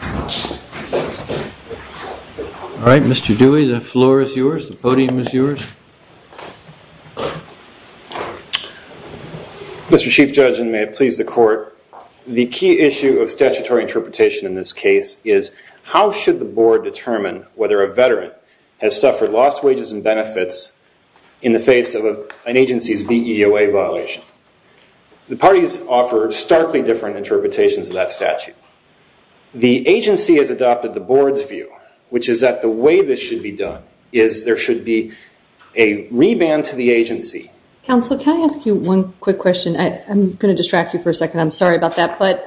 All right, Mr. Dewey, the floor is yours, the podium is yours. Mr. Chief Judge, and may it please the Court, the key issue of statutory interpretation in this case is how should the Board determine whether a veteran has suffered lost wages and benefits in the face of an agency's VEOA violation? The parties offer starkly different interpretations of that statute. The agency has adopted the Board's view, which is that the way this should be done is there should be a reband to the agency. Counsel, can I ask you one quick question? I'm going to distract you for a second, I'm sorry about that, but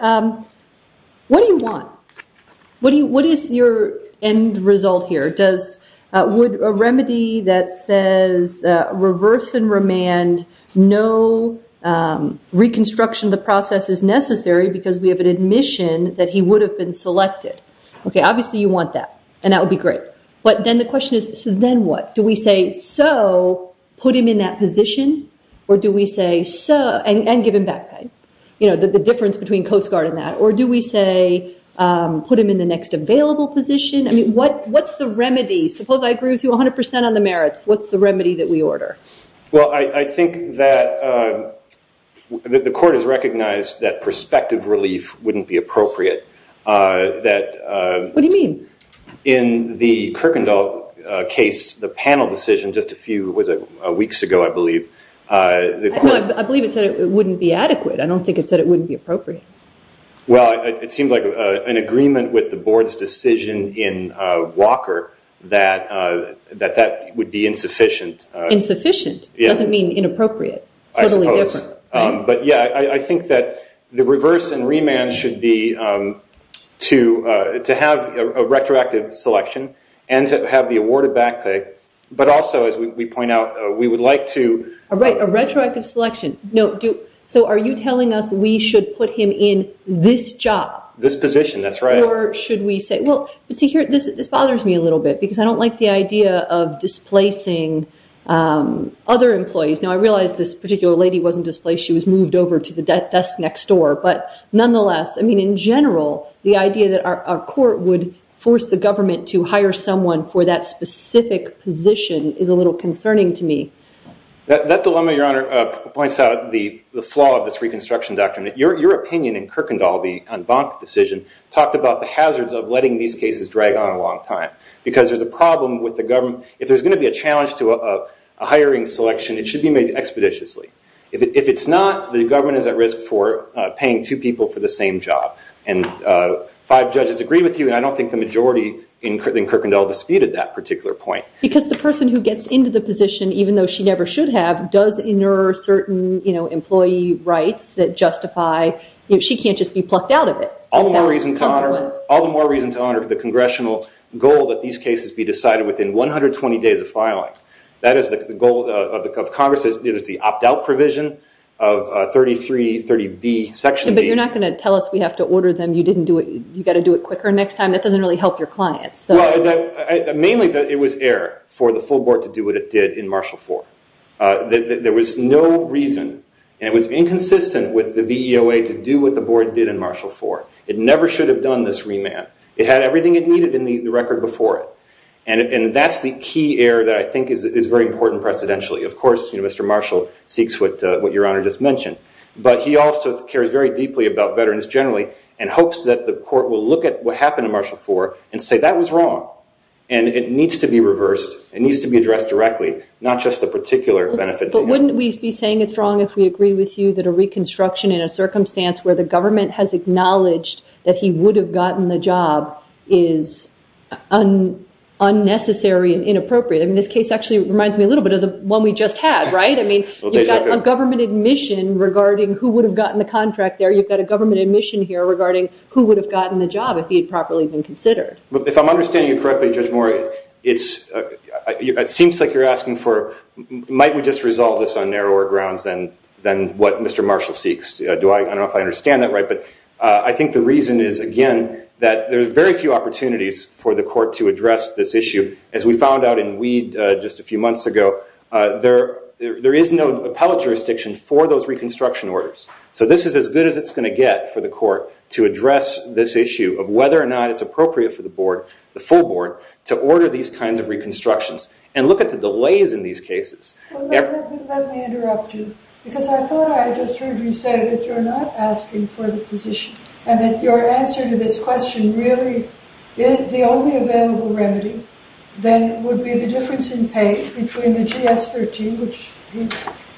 what do you want? What is your end result here? Would a remedy that says reverse and remand, no reconstruction of the process is necessary because we have an admission that he would have been selected? Okay, obviously you want that, and that would be great, but then the question is, so then what? Do we say so, put him in that position, or do we say so, and give him back pay? The difference between Coast Guard and that, or do we say put him in the next available position? I mean, what's the remedy? Suppose I agree with you 100% on the merits, what's the remedy that we order? Well, I think that the court has recognized that prospective relief wouldn't be appropriate. What do you mean? In the Kuykendall case, the panel decision just a few, was it weeks ago, I believe. No, I believe it said it wouldn't be adequate. I don't think it said it wouldn't be appropriate. Well, it seems like an agreement with the that that would be insufficient. Insufficient? It doesn't mean inappropriate. I suppose. Totally different. But yeah, I think that the reverse and remand should be to have a retroactive selection, and to have the award of back pay, but also as we point out, we would like to- A retroactive selection. No, so are you telling us we should put him in this job? This position, that's right. Or should we say, well, but see here, this bothers me a little bit, because I don't like the idea of displacing other employees. Now, I realize this particular lady wasn't displaced, she was moved over to the desk next door. But nonetheless, I mean, in general, the idea that our court would force the government to hire someone for that specific position is a little concerning to me. That dilemma, Your Honor, points out the flaw of this reconstruction doctrine. Your opinion in Kuykendall, the en banc decision, talked about the hazards of letting these cases drag on a long time, because there's a problem with the government. If there's going to be a challenge to a hiring selection, it should be made expeditiously. If it's not, the government is at risk for paying two people for the same job. Five judges agree with you, and I don't think the majority in Kuykendall disputed that particular point. Because the person who gets into the position, even though she never should have, does inert certain employee rights that justify... She can't just be plucked out of it. All the more reason to honor the congressional goal that these cases be decided within 120 days of filing. That is the goal of Congress. It's the opt-out provision of 3330B, section B. But you're not going to tell us we have to order them, you got to do it quicker next time? That doesn't really help your clients. Mainly, it was air for the full board to do what it did in Marshall IV. There was no reason, and it was inconsistent with the VEOA to do what the board did in Marshall IV. It never should have done this remand. It had everything it needed in the record before it. And that's the key air that I think is very important precedentially. Of course, Mr. Marshall seeks what your Honor just mentioned, but he also cares very deeply about veterans generally, and hopes that the court will look at what happened in Marshall IV and say, that was wrong. And it needs to be reversed, it needs to be addressed directly, not just the particular benefit to him. But wouldn't we be saying it's wrong if we agreed with you that a reconstruction in a case where the government has acknowledged that he would have gotten the job is unnecessary and inappropriate? I mean, this case actually reminds me a little bit of the one we just had, right? I mean, you've got a government admission regarding who would have gotten the contract there, you've got a government admission here regarding who would have gotten the job if he had properly been considered. If I'm understanding you correctly Judge Moore, it seems like you're asking for, might we just resolve this on narrower grounds than what Mr. Marshall seeks. I don't know if I understand that right, but I think the reason is again that there's very few opportunities for the court to address this issue. As we found out in Weed just a few months ago, there is no appellate jurisdiction for those reconstruction orders. So this is as good as it's going to get for the court to address this issue of whether or not it's appropriate for the board, the full board, to order these kinds of reconstructions. Look at the delays in these cases. Let me interrupt you, because I thought I just heard you say that you're not asking for the position and that your answer to this question really is the only available remedy then would be the difference in pay between the GS-13, which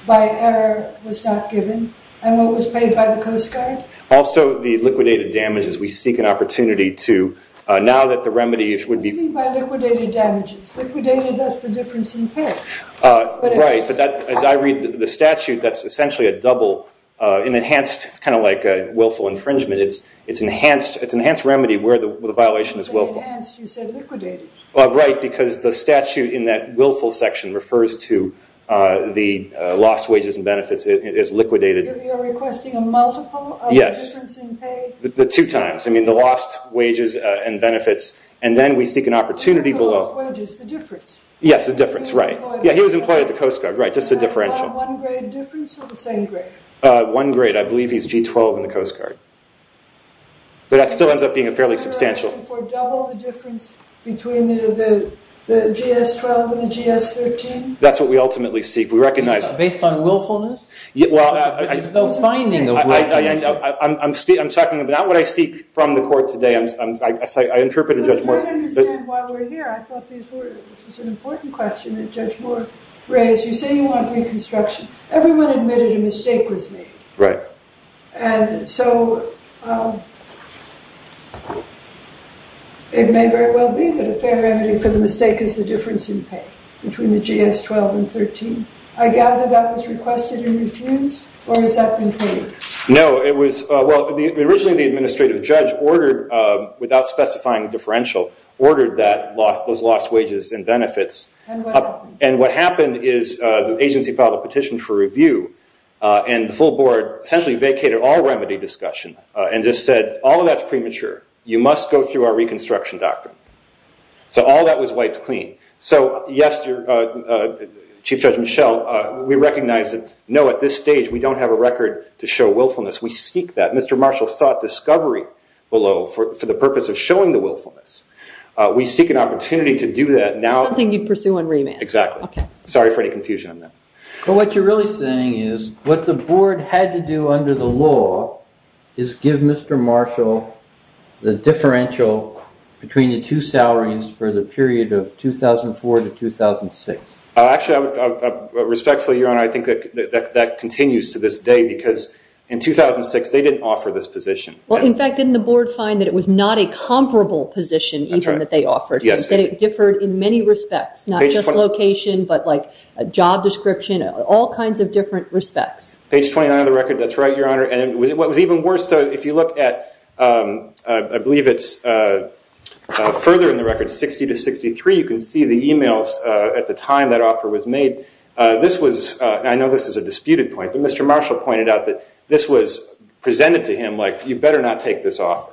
by error was not given, and what was paid by the Coast Guard? Also, the liquidated damages. We seek an opportunity to, now that the remedy would be- You mean by liquidated damages. Liquidated, that's the difference in pay. Right, but as I read the statute, that's essentially a double, an enhanced, it's kind of like a willful infringement. It's an enhanced remedy where the violation is willful. You say enhanced, you said liquidated. Right, because the statute in that willful section refers to the lost wages and benefits as liquidated. You're requesting a multiple of the difference in pay? The two times, I mean the lost wages and benefits, and then we seek an opportunity below. Not the lost wages, the difference. Yes, the difference, right. He was employed at the Coast Guard. Yeah, he was employed at the Coast Guard, right, just the differential. Is that a one grade difference or the same grade? One grade, I believe he's G-12 in the Coast Guard, but that still ends up being a fairly substantial- Is the separation for double the difference between the GS-12 and the GS-13? That's what we ultimately seek. We recognize- Based on willfulness? There's no finding of willfulness here. I'm checking, but not what I seek from the court today. I interpreted Judge Moore's- I don't understand why we're here. I thought this was an important question that Judge Moore raised. You say you want reconstruction. Everyone admitted a mistake was made. Right. And so it may very well be that a fair remedy for the mistake is the difference in pay between the GS-12 and 13. I gather that was requested in refuse, or has that been put in? No, it was- Well, originally the administrative judge ordered, without specifying differential, ordered those lost wages and benefits. And what happened is the agency filed a petition for review, and the full board essentially vacated all remedy discussion and just said, all of that's premature. You must go through our reconstruction doctrine. So all that was wiped clean. So yes, Chief Judge Michelle, we recognize that no, at this stage, we don't have a record to show willfulness. We seek that. Mr. Marshall sought discovery below for the purpose of showing the willfulness. We seek an opportunity to do that now- Something you pursue in remand. Exactly. Okay. Sorry for any confusion on that. But what you're really saying is what the board had to do under the law is give Mr. Marshall the differential between the two salaries for the period of 2004 to 2006. Actually, respectfully, Your Honor, I think that continues to this day because in 2006, they didn't offer this position. Well, in fact, didn't the board find that it was not a comparable position even that they offered? Yes. That it differed in many respects, not just location, but job description, all kinds of different respects. Page 29 of the record. That's right, Your Honor. And what was even worse, if you look at, I believe it's further in the record, 60 to 63, you can see the emails at the time that offer was made. I know this is a disputed point, but Mr. Marshall pointed out that this was presented to him like, you better not take this offer.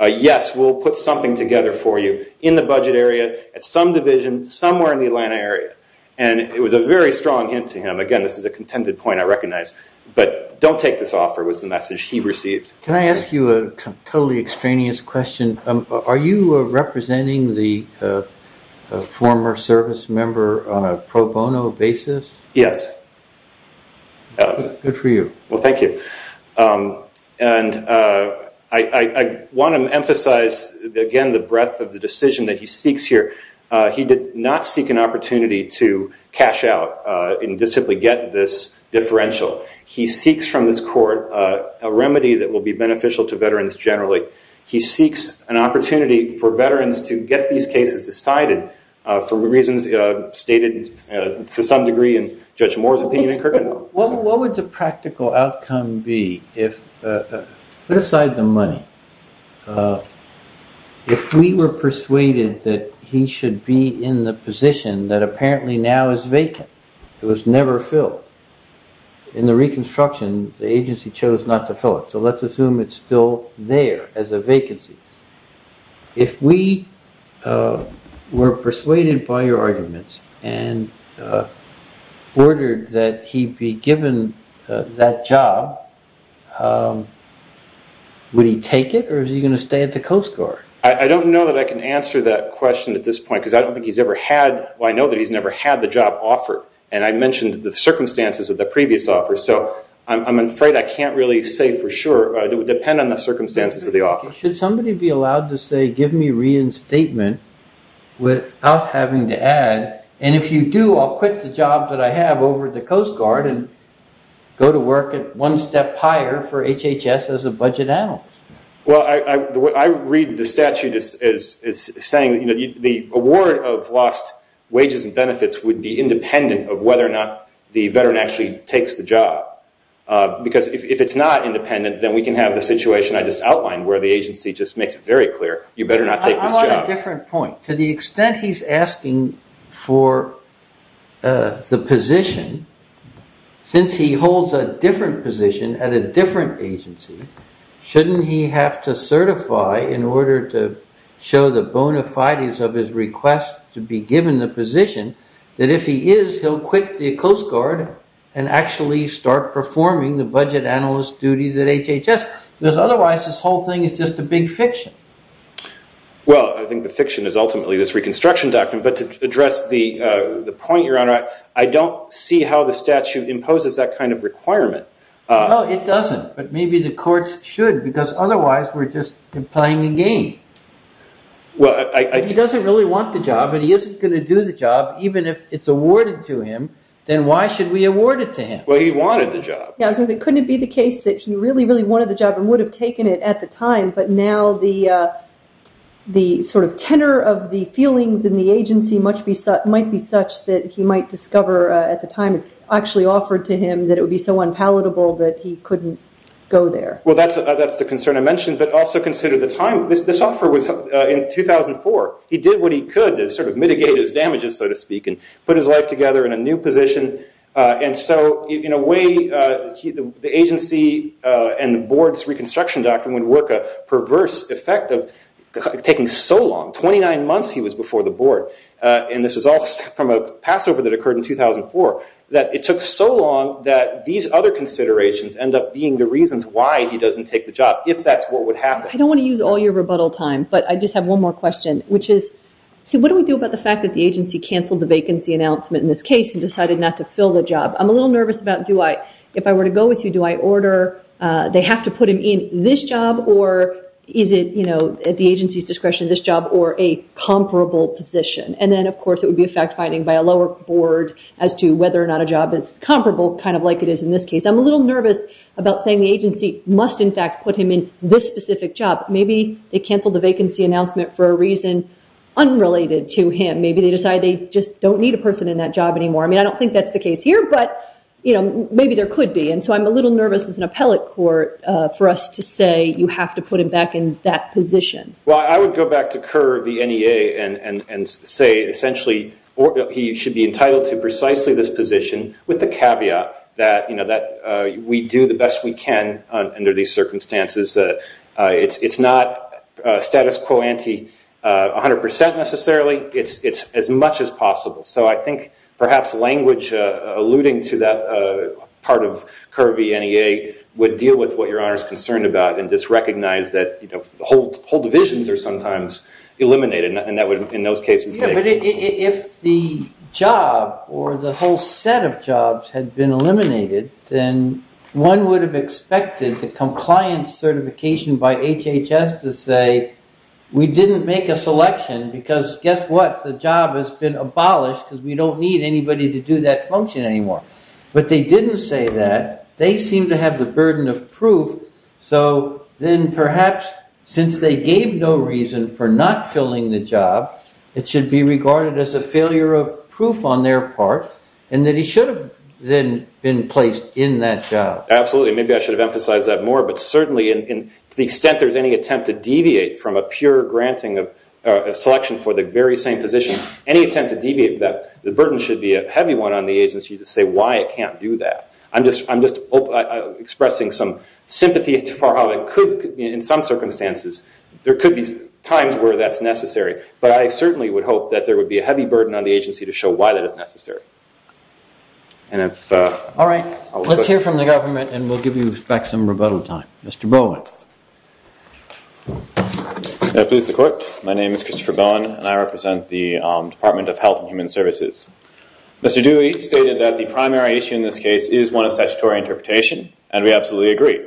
Yes, we'll put something together for you in the budget area, at some division, somewhere in the Atlanta area. And it was a very strong hint to him. Again, this is a contended point, I recognize. But don't take this offer was the message he received. Can I ask you a totally extraneous question? Are you representing the former service member on a pro bono basis? Yes. Good for you. Well, thank you. And I want to emphasize, again, the breadth of the decision that he seeks here. He did not seek an opportunity to cash out and just simply get this differential. He seeks from this court a remedy that will be beneficial to veterans generally. He seeks an opportunity for veterans to get these cases decided for reasons stated to some degree in Judge Moore's opinion in Kirkenwell. What would the practical outcome be if, put aside the money, if we were persuaded that he should be in the position that apparently now is vacant, it was never filled. In the reconstruction, the agency chose not to fill it. So let's assume it's still there as a vacancy. If we were persuaded by your arguments and ordered that he be given that job, would he take it or is he going to stay at the Coast Guard? I don't know that I can answer that question at this point because I don't think he's ever had, well, I know that he's never had the job offered. I mentioned the circumstances of the previous offer, so I'm afraid I can't really say for sure. It would depend on the circumstances of the offer. Should somebody be allowed to say, give me reinstatement without having to add, and if you do, I'll quit the job that I have over at the Coast Guard and go to work at one step higher for HHS as a budget analyst? Well, I read the statute as saying that the award of lost wages and benefits would be independent of whether or not the veteran actually takes the job. Because if it's not independent, then we can have the situation I just outlined where the agency just makes it very clear, you better not take this job. I want a different point. To the extent he's asking for the position, since he holds a different position at a different agency, doesn't he have to certify in order to show the bona fides of his request to be given the position that if he is, he'll quit the Coast Guard and actually start performing the budget analyst duties at HHS? Because otherwise, this whole thing is just a big fiction. Well, I think the fiction is ultimately this reconstruction doctrine. But to address the point, Your Honor, I don't see how the statute imposes that kind of requirement. No, it doesn't. But maybe the courts should. Because otherwise, we're just playing a game. If he doesn't really want the job, and he isn't going to do the job, even if it's awarded to him, then why should we award it to him? Well, he wanted the job. Yeah, as long as it couldn't be the case that he really, really wanted the job and would have taken it at the time. But now the tenor of the feelings in the agency might be such that he might discover at the time it's actually offered to him that it would be so unpalatable that he couldn't go there. Well, that's the concern I mentioned. But also consider the time. This offer was in 2004. He did what he could to sort of mitigate his damages, so to speak, and put his life together in a new position. And so in a way, the agency and the board's reconstruction doctrine would work a perverse effect of taking so long. 29 months he was before the board. And this is all from a passover that occurred in 2004, that it took so long that these other considerations end up being the reasons why he doesn't take the job, if that's what would happen. I don't want to use all your rebuttal time, but I just have one more question, which is, see, what do we do about the fact that the agency canceled the vacancy announcement in this case and decided not to fill the job? I'm a little nervous about do I, if I were to go with you, do I order, they have to put him in this job, or is it at the agency's discretion, this job, or a comparable position? And then, of course, it would be a fact finding by a lower board as to whether or not a job is comparable, kind of like it is in this case. I'm a little nervous about saying the agency must, in fact, put him in this specific job. Maybe they canceled the vacancy announcement for a reason unrelated to him. Maybe they decide they just don't need a person in that job anymore. I mean, I don't think that's the case here, but maybe there could be. So I'm a little nervous as an appellate court for us to say you have to put him back in that position. Well, I would go back to Kerr of the NEA and say essentially he should be entitled to precisely this position with the caveat that we do the best we can under these circumstances. It's not status quo ante 100% necessarily. It's as much as possible. So I think perhaps language alluding to that part of Kerr of the NEA would deal with what Your Honor is concerned about and just recognize that whole divisions are sometimes eliminated. And that would, in those cases, make it more difficult. If the job or the whole set of jobs had been eliminated, then one would have expected the compliance certification by HHS to say we didn't make a selection because guess what? The job has been abolished because we don't need anybody to do that function anymore. But they didn't say that. They seem to have the burden of proof. So then perhaps since they gave no reason for not filling the job, it should be regarded as a failure of proof on their part and that he should have then been placed in that job. Absolutely. Maybe I should have emphasized that more, but certainly to the extent there's any attempt to deviate from that, the burden should be a heavy one on the agency to say why it can't do that. I'm just expressing some sympathy for how it could, in some circumstances, there could be times where that's necessary. But I certainly would hope that there would be a heavy burden on the agency to show why that is necessary. All right. Let's hear from the government and we'll give you back some rebuttal time. Mr. Bowen. May it please the Court. My name is Christopher Bowen and I represent the Department of Health and Human Services. Mr. Dewey stated that the primary issue in this case is one of statutory interpretation and we absolutely agree.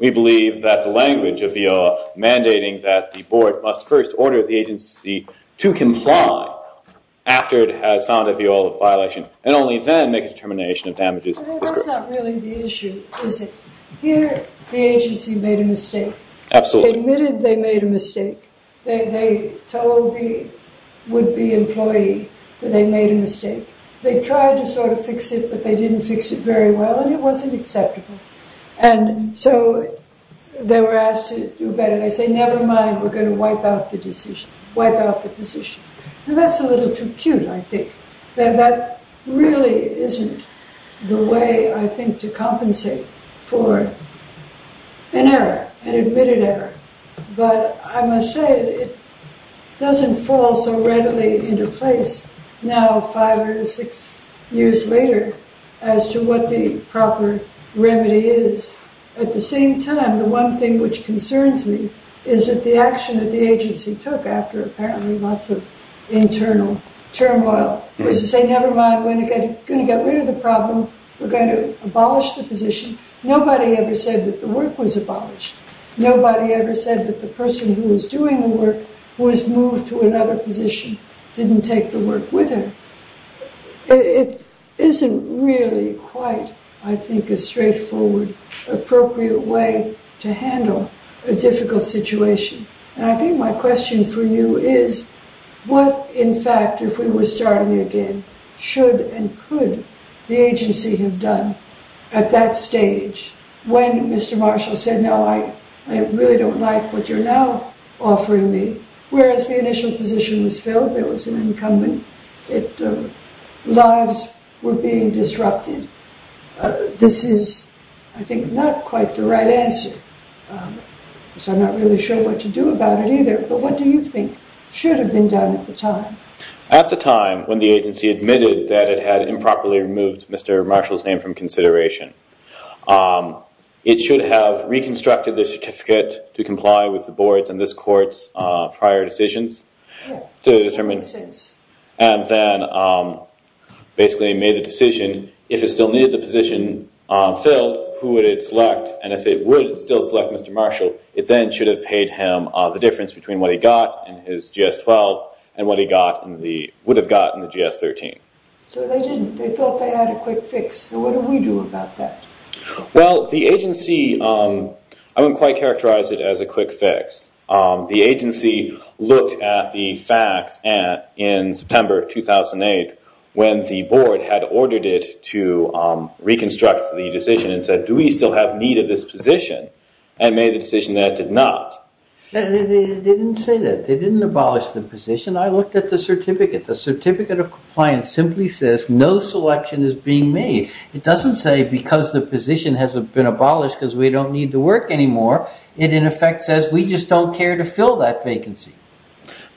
We believe that the language of the law mandating that the board must first order the agency to comply after it has found a violative violation and only then make a determination of damages. But that's not really the issue, is it? Here the agency made a mistake. Absolutely. Admitted they made a mistake. They told the would-be employee that they made a mistake. They tried to sort of fix it, but they didn't fix it very well and it wasn't acceptable. And so they were asked to do better. They say, never mind, we're going to wipe out the decision, wipe out the position. And that's a little too cute, I think. That really isn't the way, I think, to compensate for an error, an admitted error. But I must say it doesn't fall so readily into place now five or six years later as to what the proper remedy is. At the same time, the one thing which concerns me is that the action that the agency took after apparently lots of internal turmoil was to say, never mind, we're going to get rid of the problem. We're going to abolish the position. Nobody ever said that the work was abolished. Nobody ever said that the person who was doing the work was moved to another position, didn't take the work with her. It isn't really quite, I think, a straightforward, appropriate way to handle a difficult situation. And I think my question for you is, what, in fact, if we were starting again, should and could the agency have done at that stage when Mr. Marshall said, no, I really don't like what you're now offering me? Whereas the initial position was filled, there was an incumbent, lives were being disrupted. This is, I think, not quite the right answer, because I'm not really sure what to do about it either. But what do you think should have been done at the time? At the time when the agency admitted that it had improperly removed Mr. Marshall's name from consideration, it should have reconstructed the certificate to comply with the board's and this court's prior decisions to determine, and then basically made a decision. If it still needed the position filled, who would it select? And if it would still select Mr. Marshall, it then should have paid him the difference between what he got in his GS-12 and what he would have gotten in the GS-13. So they didn't. They thought they had a quick fix. What do we do about that? Well, the agency, I wouldn't quite characterize it as a quick fix. The agency looked at the facts in September 2008 when the board had ordered it to reconstruct the decision and said, do we still have need of this position? And made the decision that it did not. They didn't say that. They didn't abolish the position. I looked at the certificate. The certificate of compliance simply says no selection is being made. It doesn't say because the position has been abolished because we don't need to work anymore. It, in effect, says we just don't care to fill that vacancy.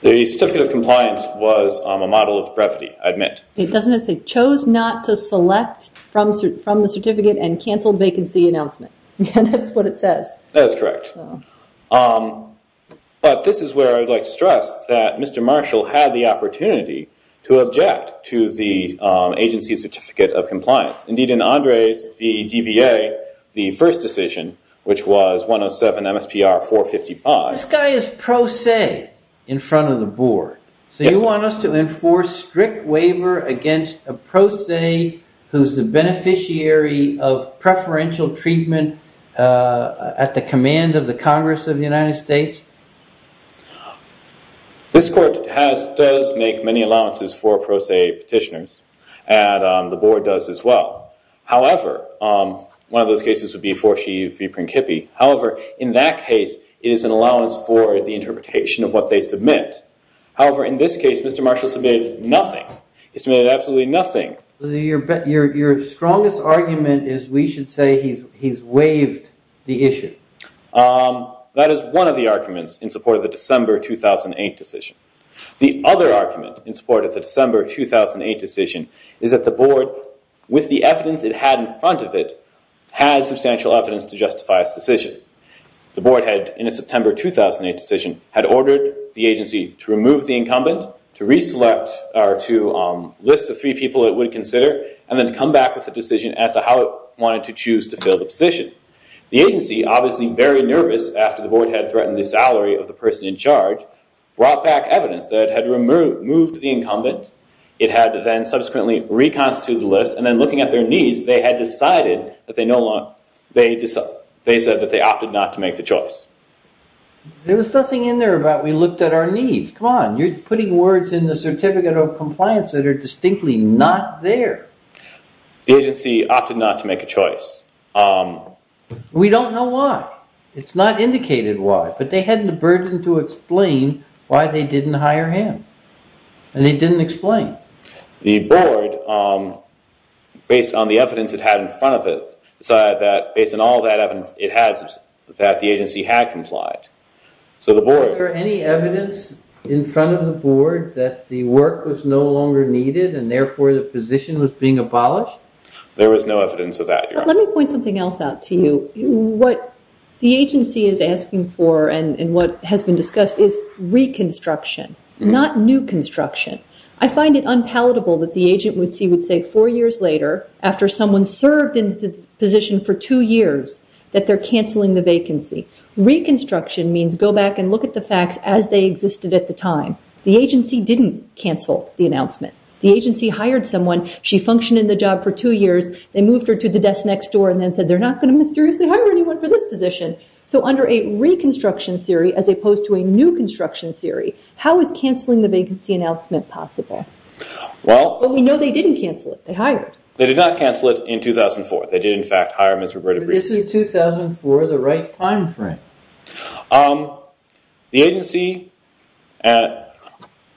The certificate of compliance was a model of brevity, I admit. It doesn't say chose not to select from the certificate and canceled vacancy announcement. That's what it says. That is correct. But this is where I would like to stress that Mr. Marshall had the opportunity to object to the agency's certificate of compliance. Indeed, in Andre's, the DVA, the first decision, which was 107 MSPR 455. This guy is pro se in front of the board. So you want us to enforce strict waiver against a pro se who's the beneficiary of preferential treatment at the command of the Congress of the United States? This court does make many allowances for pro se petitioners. The board does as well. However, one of those cases would be 4C v. Principi. However, in that case, it is an allowance for the interpretation of what they submit. However, in this case, Mr. Marshall submitted nothing. He submitted absolutely nothing. Your strongest argument is we should say he's waived the issue. That is one of the arguments in support of the December 2008 decision. The other argument in support of the December 2008 decision is that the board, with the evidence it had in front of it, has substantial evidence to justify its decision. The board had, in a September 2008 decision, had ordered the agency to remove the incumbent, to re-select or to list the three people it would consider, and then to come back with a decision as to how it wanted to choose to fill the position. The agency, obviously very nervous after the board had threatened the salary of the person in charge, brought back evidence that had removed the incumbent. It had then subsequently reconstituted the list. And then looking at their needs, they had decided that they opted not to make the choice. There was nothing in there about we looked at our needs. Come on. You're putting words in the certificate of compliance that are distinctly not there. The agency opted not to make a choice. We don't know why. It's not indicated why. But they had the burden to explain why they didn't hire him. And they didn't explain. The board, based on the evidence it had in front of it, decided that, based on all that evidence it had, that the agency had complied. So the board- Is there any evidence in front of the board that the work was no longer needed, and therefore the position was being abolished? There was no evidence of that, Your Honor. Let me point something else out to you. What the agency is asking for and what has been discussed is reconstruction, not new construction. I find it unpalatable that the agent would say four years later, after someone served in the position for two years, that they're canceling the vacancy. Reconstruction means go back and look at the facts as they existed at the time. The agency didn't cancel the announcement. The agency hired someone. She functioned in the job for two years. They moved her to the desk next door and then said, they're not going to mysteriously hire anyone for this position. So under a reconstruction theory, as opposed to a new construction theory, how is canceling the vacancy announcement possible? But we know they didn't cancel it. They hired. They did not cancel it in 2004. They did, in fact, hire Mr. Bredebrink. Isn't 2004 the right time frame? The agency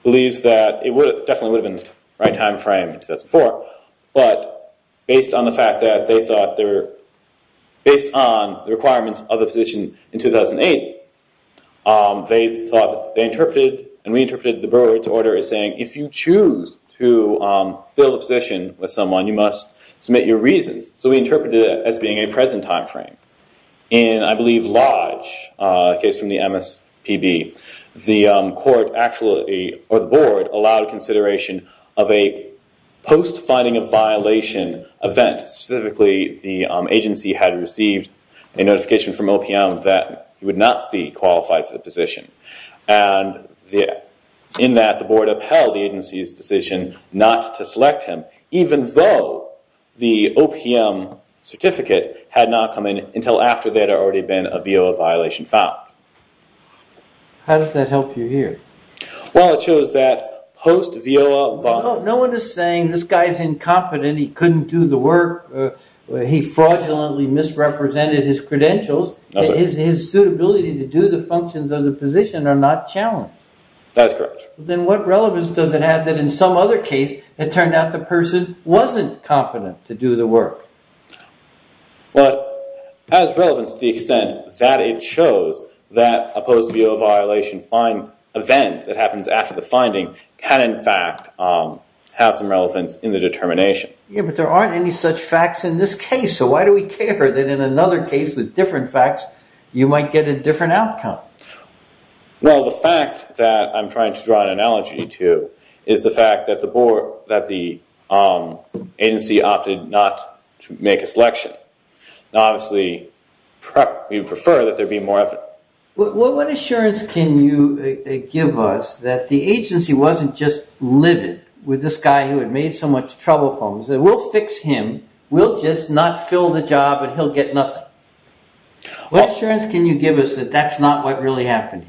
believes that it definitely would have been the right time frame in 2004, but based on the fact that they thought they were, based on the requirements of the position in 2008, they thought they interpreted and we interpreted the borrower's order as saying, if you choose to fill a position with someone, you must submit your reasons. So we interpreted it as being a present time frame. In, I believe, Lodge, a case from the MSPB, the court actually, or the board, allowed consideration of a post-finding of violation event. Specifically, the agency had received a notification from OPM that he would not be qualified for the position. And in that, the board upheld the agency's decision not to select him, even though the OPM certificate had not come in until after there had already been a VOA violation found. How does that help you here? Well, it shows that post-VOA... No one is saying, this guy's incompetent. He couldn't do the work. He fraudulently misrepresented his credentials. His suitability to do the functions of the position are not challenged. That is correct. Then what relevance does it have that in some other case, it turned out the person wasn't competent to do the work? Well, it has relevance to the extent that it shows that a post-VOA violation event that happens after the finding can, in fact, have some relevance in the determination. Yeah, but there aren't any such facts in this case. So why do we care that in another case with different facts, you might get a different outcome? Well, the fact that I'm trying to draw an analogy to is the fact that the agency opted not to make a selection. Now, obviously, we prefer that there be more effort. What assurance can you give us that the agency wasn't just livid with this guy who had made so much trouble for them, and said, we'll fix him. We'll just not fill the job and he'll get nothing. What assurance can you give us that that's not what really happened?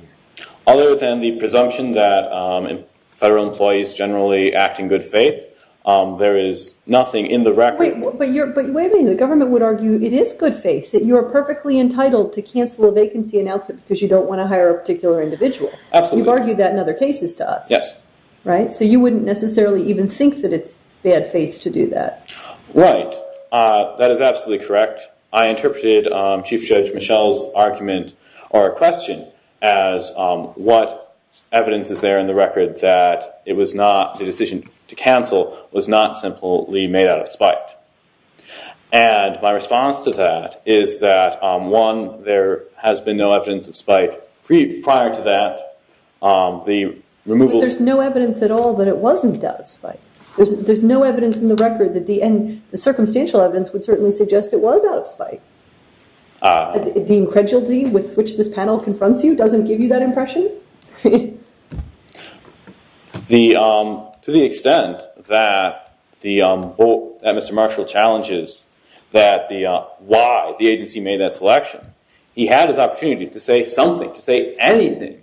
Other than the presumption that federal employees generally act in good faith, there is nothing in the record. Wait, but you're waving. The government would argue it is good faith, that you are perfectly entitled to cancel a vacancy announcement because you don't want to hire a particular individual. Absolutely. You've argued that in other cases to us. Yes. Right? So you wouldn't necessarily even think that it's bad faith to do that. Right. That is absolutely correct. I interpreted Chief Judge Michelle's argument or question as what evidence is there in the record that it was not the decision to cancel was not simply made out of spite. And my response to that is that, one, there has been no evidence of spite prior to that. The removal. There's no evidence at all that it wasn't out of spite. There's no evidence in the record that the end, would certainly suggest it was out of spite. The incredulity with which this panel confronts you doesn't give you that impression. To the extent that Mr. Marshall challenges why the agency made that selection, he had his opportunity to say something, to say anything,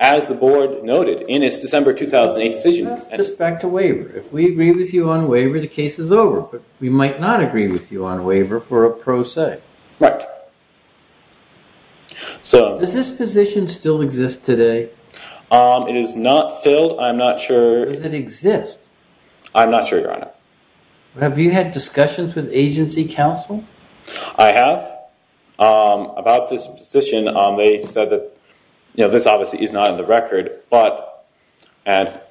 as the board noted in his December 2008 decision. Just back to waiver. If we agree with you on waiver, the case is over. We might not agree with you on waiver for a pro se. Right. Does this position still exist today? It is not filled. I'm not sure. Does it exist? I'm not sure, Your Honor. Have you had discussions with agency counsel? I have. About this position, they said that this obviously is not in the record, but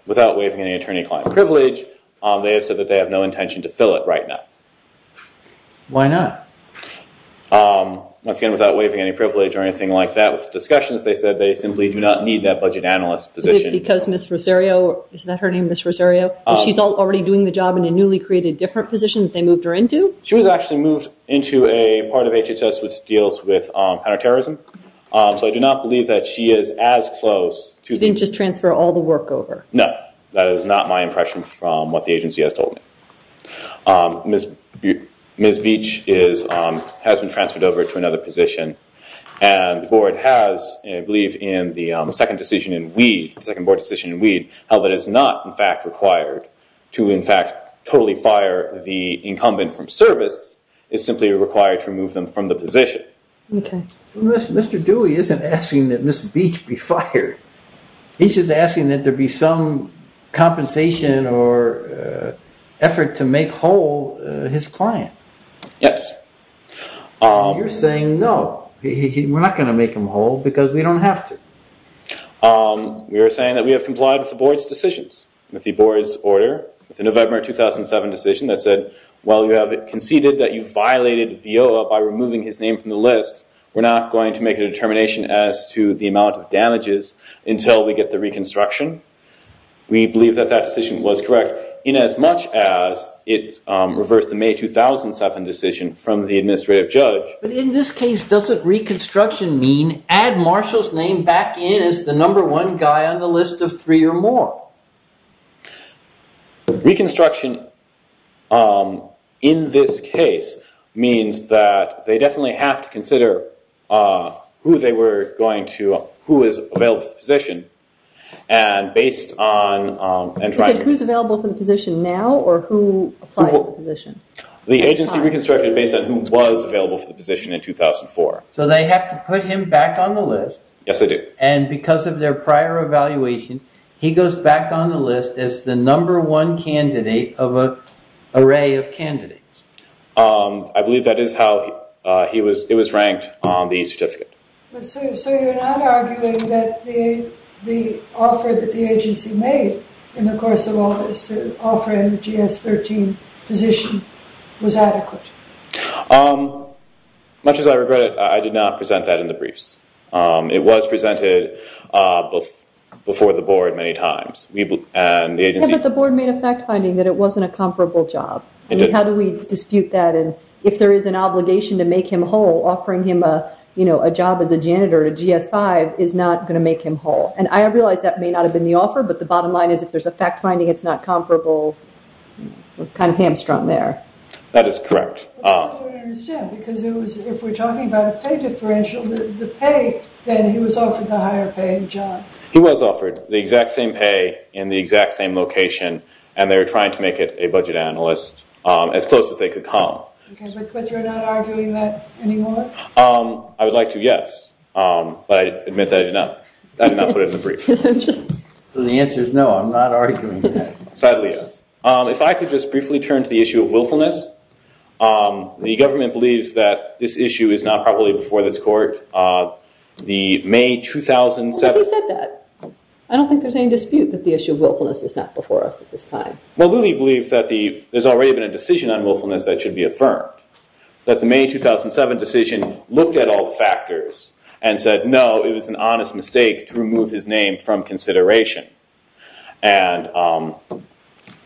without waiving any attorney client privilege, they have said that they have no intention to fill it right now. Why not? Once again, without waiving any privilege or anything like that, with discussions, they said they simply do not need that budget analyst position. Because Ms. Rosario, is that her name, Ms. Rosario? She's already doing the job in a newly created different position that they moved her into? She was actually moved into a part of HHS which deals with counterterrorism. So I do not believe that she is as close to- You didn't just transfer all the work over. No, that is not my impression from what the agency has told me. Ms. Beach has been transferred over to another position and the board has, I believe in the second decision in Weed, the second board decision in Weed, how that is not in fact required to in fact totally fire the incumbent from service, it's simply required to remove them from the position. Mr. Dewey isn't asking that Ms. Beach be fired. He's just asking that there be some compensation or effort to make whole his client. Yes. You're saying no, we're not going to make him whole because we don't have to. We are saying that we have complied with the board's decisions, with the board's order, with the November 2007 decision that said, while you have conceded that you violated VIOA by removing his name from the list, we're not going to make a determination as to the amount of damages until we get the reconstruction. We believe that that decision was correct in as much as it reversed the May 2007 decision from the administrative judge. But in this case, doesn't reconstruction mean add Marshall's name back in as the number one guy on the list of three or more? No. Reconstruction in this case means that they definitely have to consider who is available for the position and based on- You said who's available for the position now or who applied for the position? The agency reconstructed based on who was available for the position in 2004. So they have to put him back on the list. Yes, they do. And because of their prior evaluation, he goes back on the list as the number one candidate of an array of candidates. I believe that is how it was ranked on the certificate. But so you're not arguing that the offer that the agency made in the course of all this to offer him the GS-13 position was adequate? Much as I regret it, I did not present that in the briefs. It was presented before the board many times. But the board made a fact finding that it wasn't a comparable job. How do we dispute that? And if there is an obligation to make him whole, offering him a job as a janitor at GS-5 is not going to make him whole. And I realize that may not have been the offer, but the bottom line is if there's a fact finding it's not comparable, we're kind of hamstrung there. That is correct. Because if we're talking about a pay differential, the pay then he was offered the higher paying job. He was offered the exact same pay in the exact same location, and they were trying to make it a budget analyst as close as they could come. But you're not arguing that anymore? I would like to, yes. But I admit that I did not put it in the brief. So the answer is no, I'm not arguing that. Sadly, yes. If I could just briefly turn to the issue of willfulness. The government believes that this issue is not probably before this court. The May 2007- Who said that? I don't think there's any dispute that the issue of willfulness is not before us at this time. Well, we believe that there's already been a decision on willfulness that should be affirmed. That the May 2007 decision looked at all the factors and said, no, it was an honest mistake to remove his name from consideration. And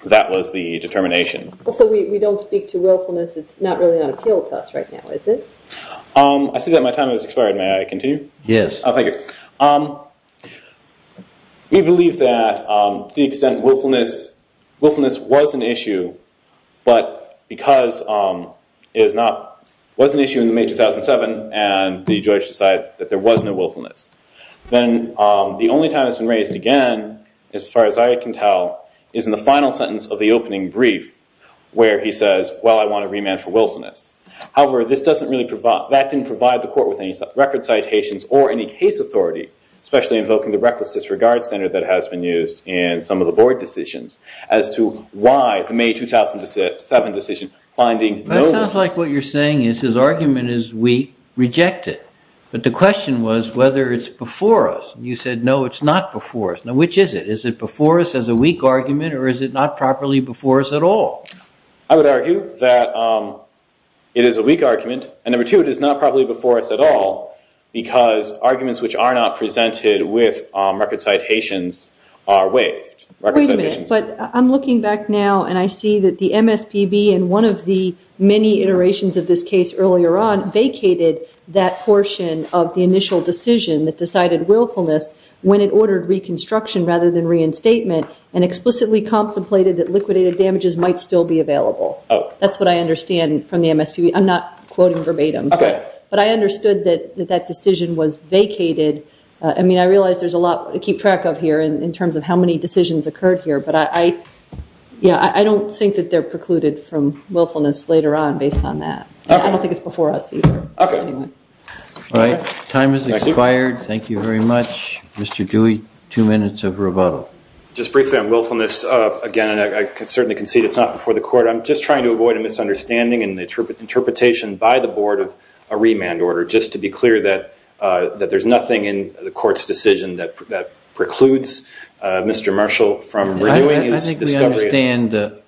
that was the determination. Also, we don't speak to willfulness. It's not really an appeal to us right now, is it? I see that my time has expired. May I continue? Yes. Oh, thank you. We believe that to the extent willfulness was an issue, but because it was an issue in the May 2007 and the judge decided that there was no willfulness, then the only time it's been raised again, as far as I can tell, is in the final sentence of the opening brief. Where he says, well, I want a remand for willfulness. However, that didn't provide the court with any record citations or any case authority, especially invoking the reckless disregard center that has been used in some of the board decisions as to why the May 2007 decision finding no willfulness. That sounds like what you're saying is his argument is we reject it. But the question was whether it's before us. You said, no, it's not before us. Now, which is it? Is it before us as a weak argument, or is it not properly before us at all? I would argue that it is a weak argument, and number two, it is not properly before us at all, because arguments which are not presented with record citations are waived. Wait a minute, but I'm looking back now and I see that the MSPB in one of the many iterations of this case earlier on vacated that portion of the initial decision that decided willfulness when it ordered reconstruction rather than reinstatement and explicitly contemplated that liquidated damages might still be available. That's what I understand from the MSPB. I'm not quoting verbatim, but I understood that that decision was vacated. I mean, I realize there's a lot to keep track of here in terms of how many decisions occurred here, but I don't think that they're precluded from willfulness later on based on that. I don't think it's before us either. All right, time has expired. Thank you very much. Mr. Dewey, two minutes of rebuttal. Just briefly on willfulness, again, and I can certainly concede it's not before the court. I'm just trying to avoid a misunderstanding in the interpretation by the board of a remand order, just to be clear that there's nothing in the court's decision that precludes Mr. Marshall from renewing his discovery. I think we understand the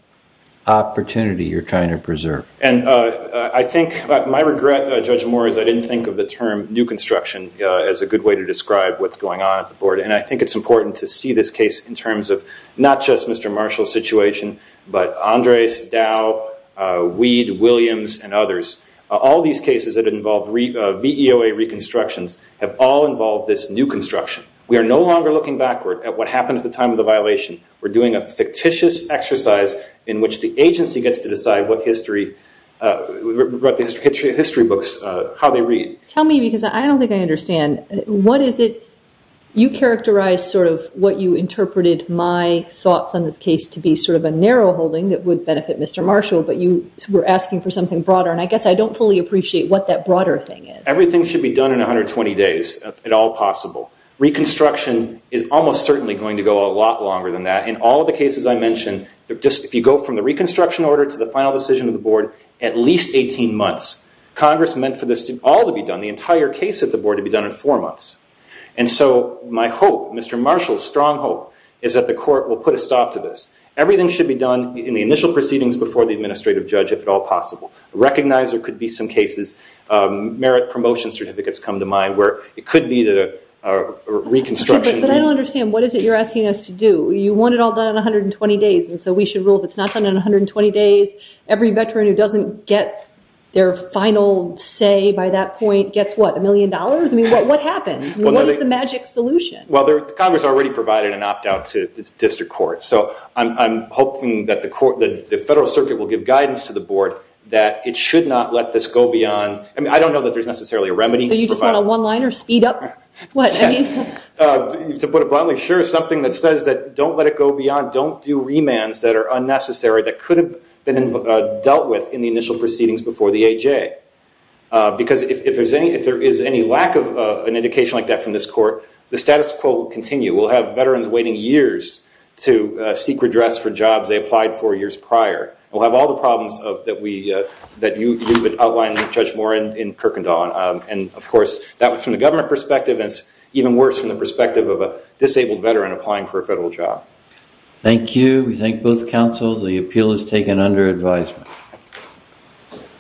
opportunity you're trying to preserve. And I think my regret, Judge Moore, is I didn't think of the term new construction as a good way to describe what's going on at the board. And I think it's important to see this case in terms of not just Mr. Marshall's situation, but Andres, Dow, Weed, Williams, and others. All these cases that involve VEOA reconstructions have all involved this new construction. We are no longer looking backward at what happened at the time of the violation. We're doing a fictitious exercise in which the agency gets to decide what history, history books, how they read. Tell me, because I don't think I understand. What is it? You characterized sort of what you interpreted my thoughts on this case to be sort of a narrow holding that would benefit Mr. Marshall. But you were asking for something broader. And I guess I don't fully appreciate what that broader thing is. Everything should be done in 120 days, if at all possible. Reconstruction is almost certainly going to go a lot longer than that. In all of the cases I mentioned, just if you go from the reconstruction order to the final decision of the board, at least 18 months. Congress meant for all to be done, the entire case at the board, to be done in four months. And so my hope, Mr. Marshall's strong hope, is that the court will put a stop to this. Everything should be done in the initial proceedings before the administrative judge, if at all possible. Recognizer could be some cases. Merit promotion certificates come to mind, where it could be that a reconstruction. But I don't understand. What is it you're asking us to do? You want it all done in 120 days. And so we should rule if it's not done in 120 days. Every veteran who doesn't get their final say by that point gets what? A million dollars? I mean, what happens? What is the magic solution? Well, Congress already provided an opt-out to district court. So I'm hoping that the federal circuit will give guidance to the board that it should not let this go beyond. I mean, I don't know that there's necessarily a remedy. So you just want a one-liner speed-up? What? I mean? To put it bluntly, sure. Something that says that don't let it go beyond. Don't do remands that are unnecessary, that could have been dealt with in the initial proceedings before the AJ. Because if there is any lack of an indication like that from this court, the status quo will continue. We'll have veterans waiting years to seek redress for jobs they applied for years prior. We'll have all the problems that you would outline, Judge Moore, in Kirkendall. And of course, that was from the government perspective. And it's even worse from the perspective of a disabled veteran applying for a federal job. Thank you. We thank both counsel. The appeal is taken under advisement.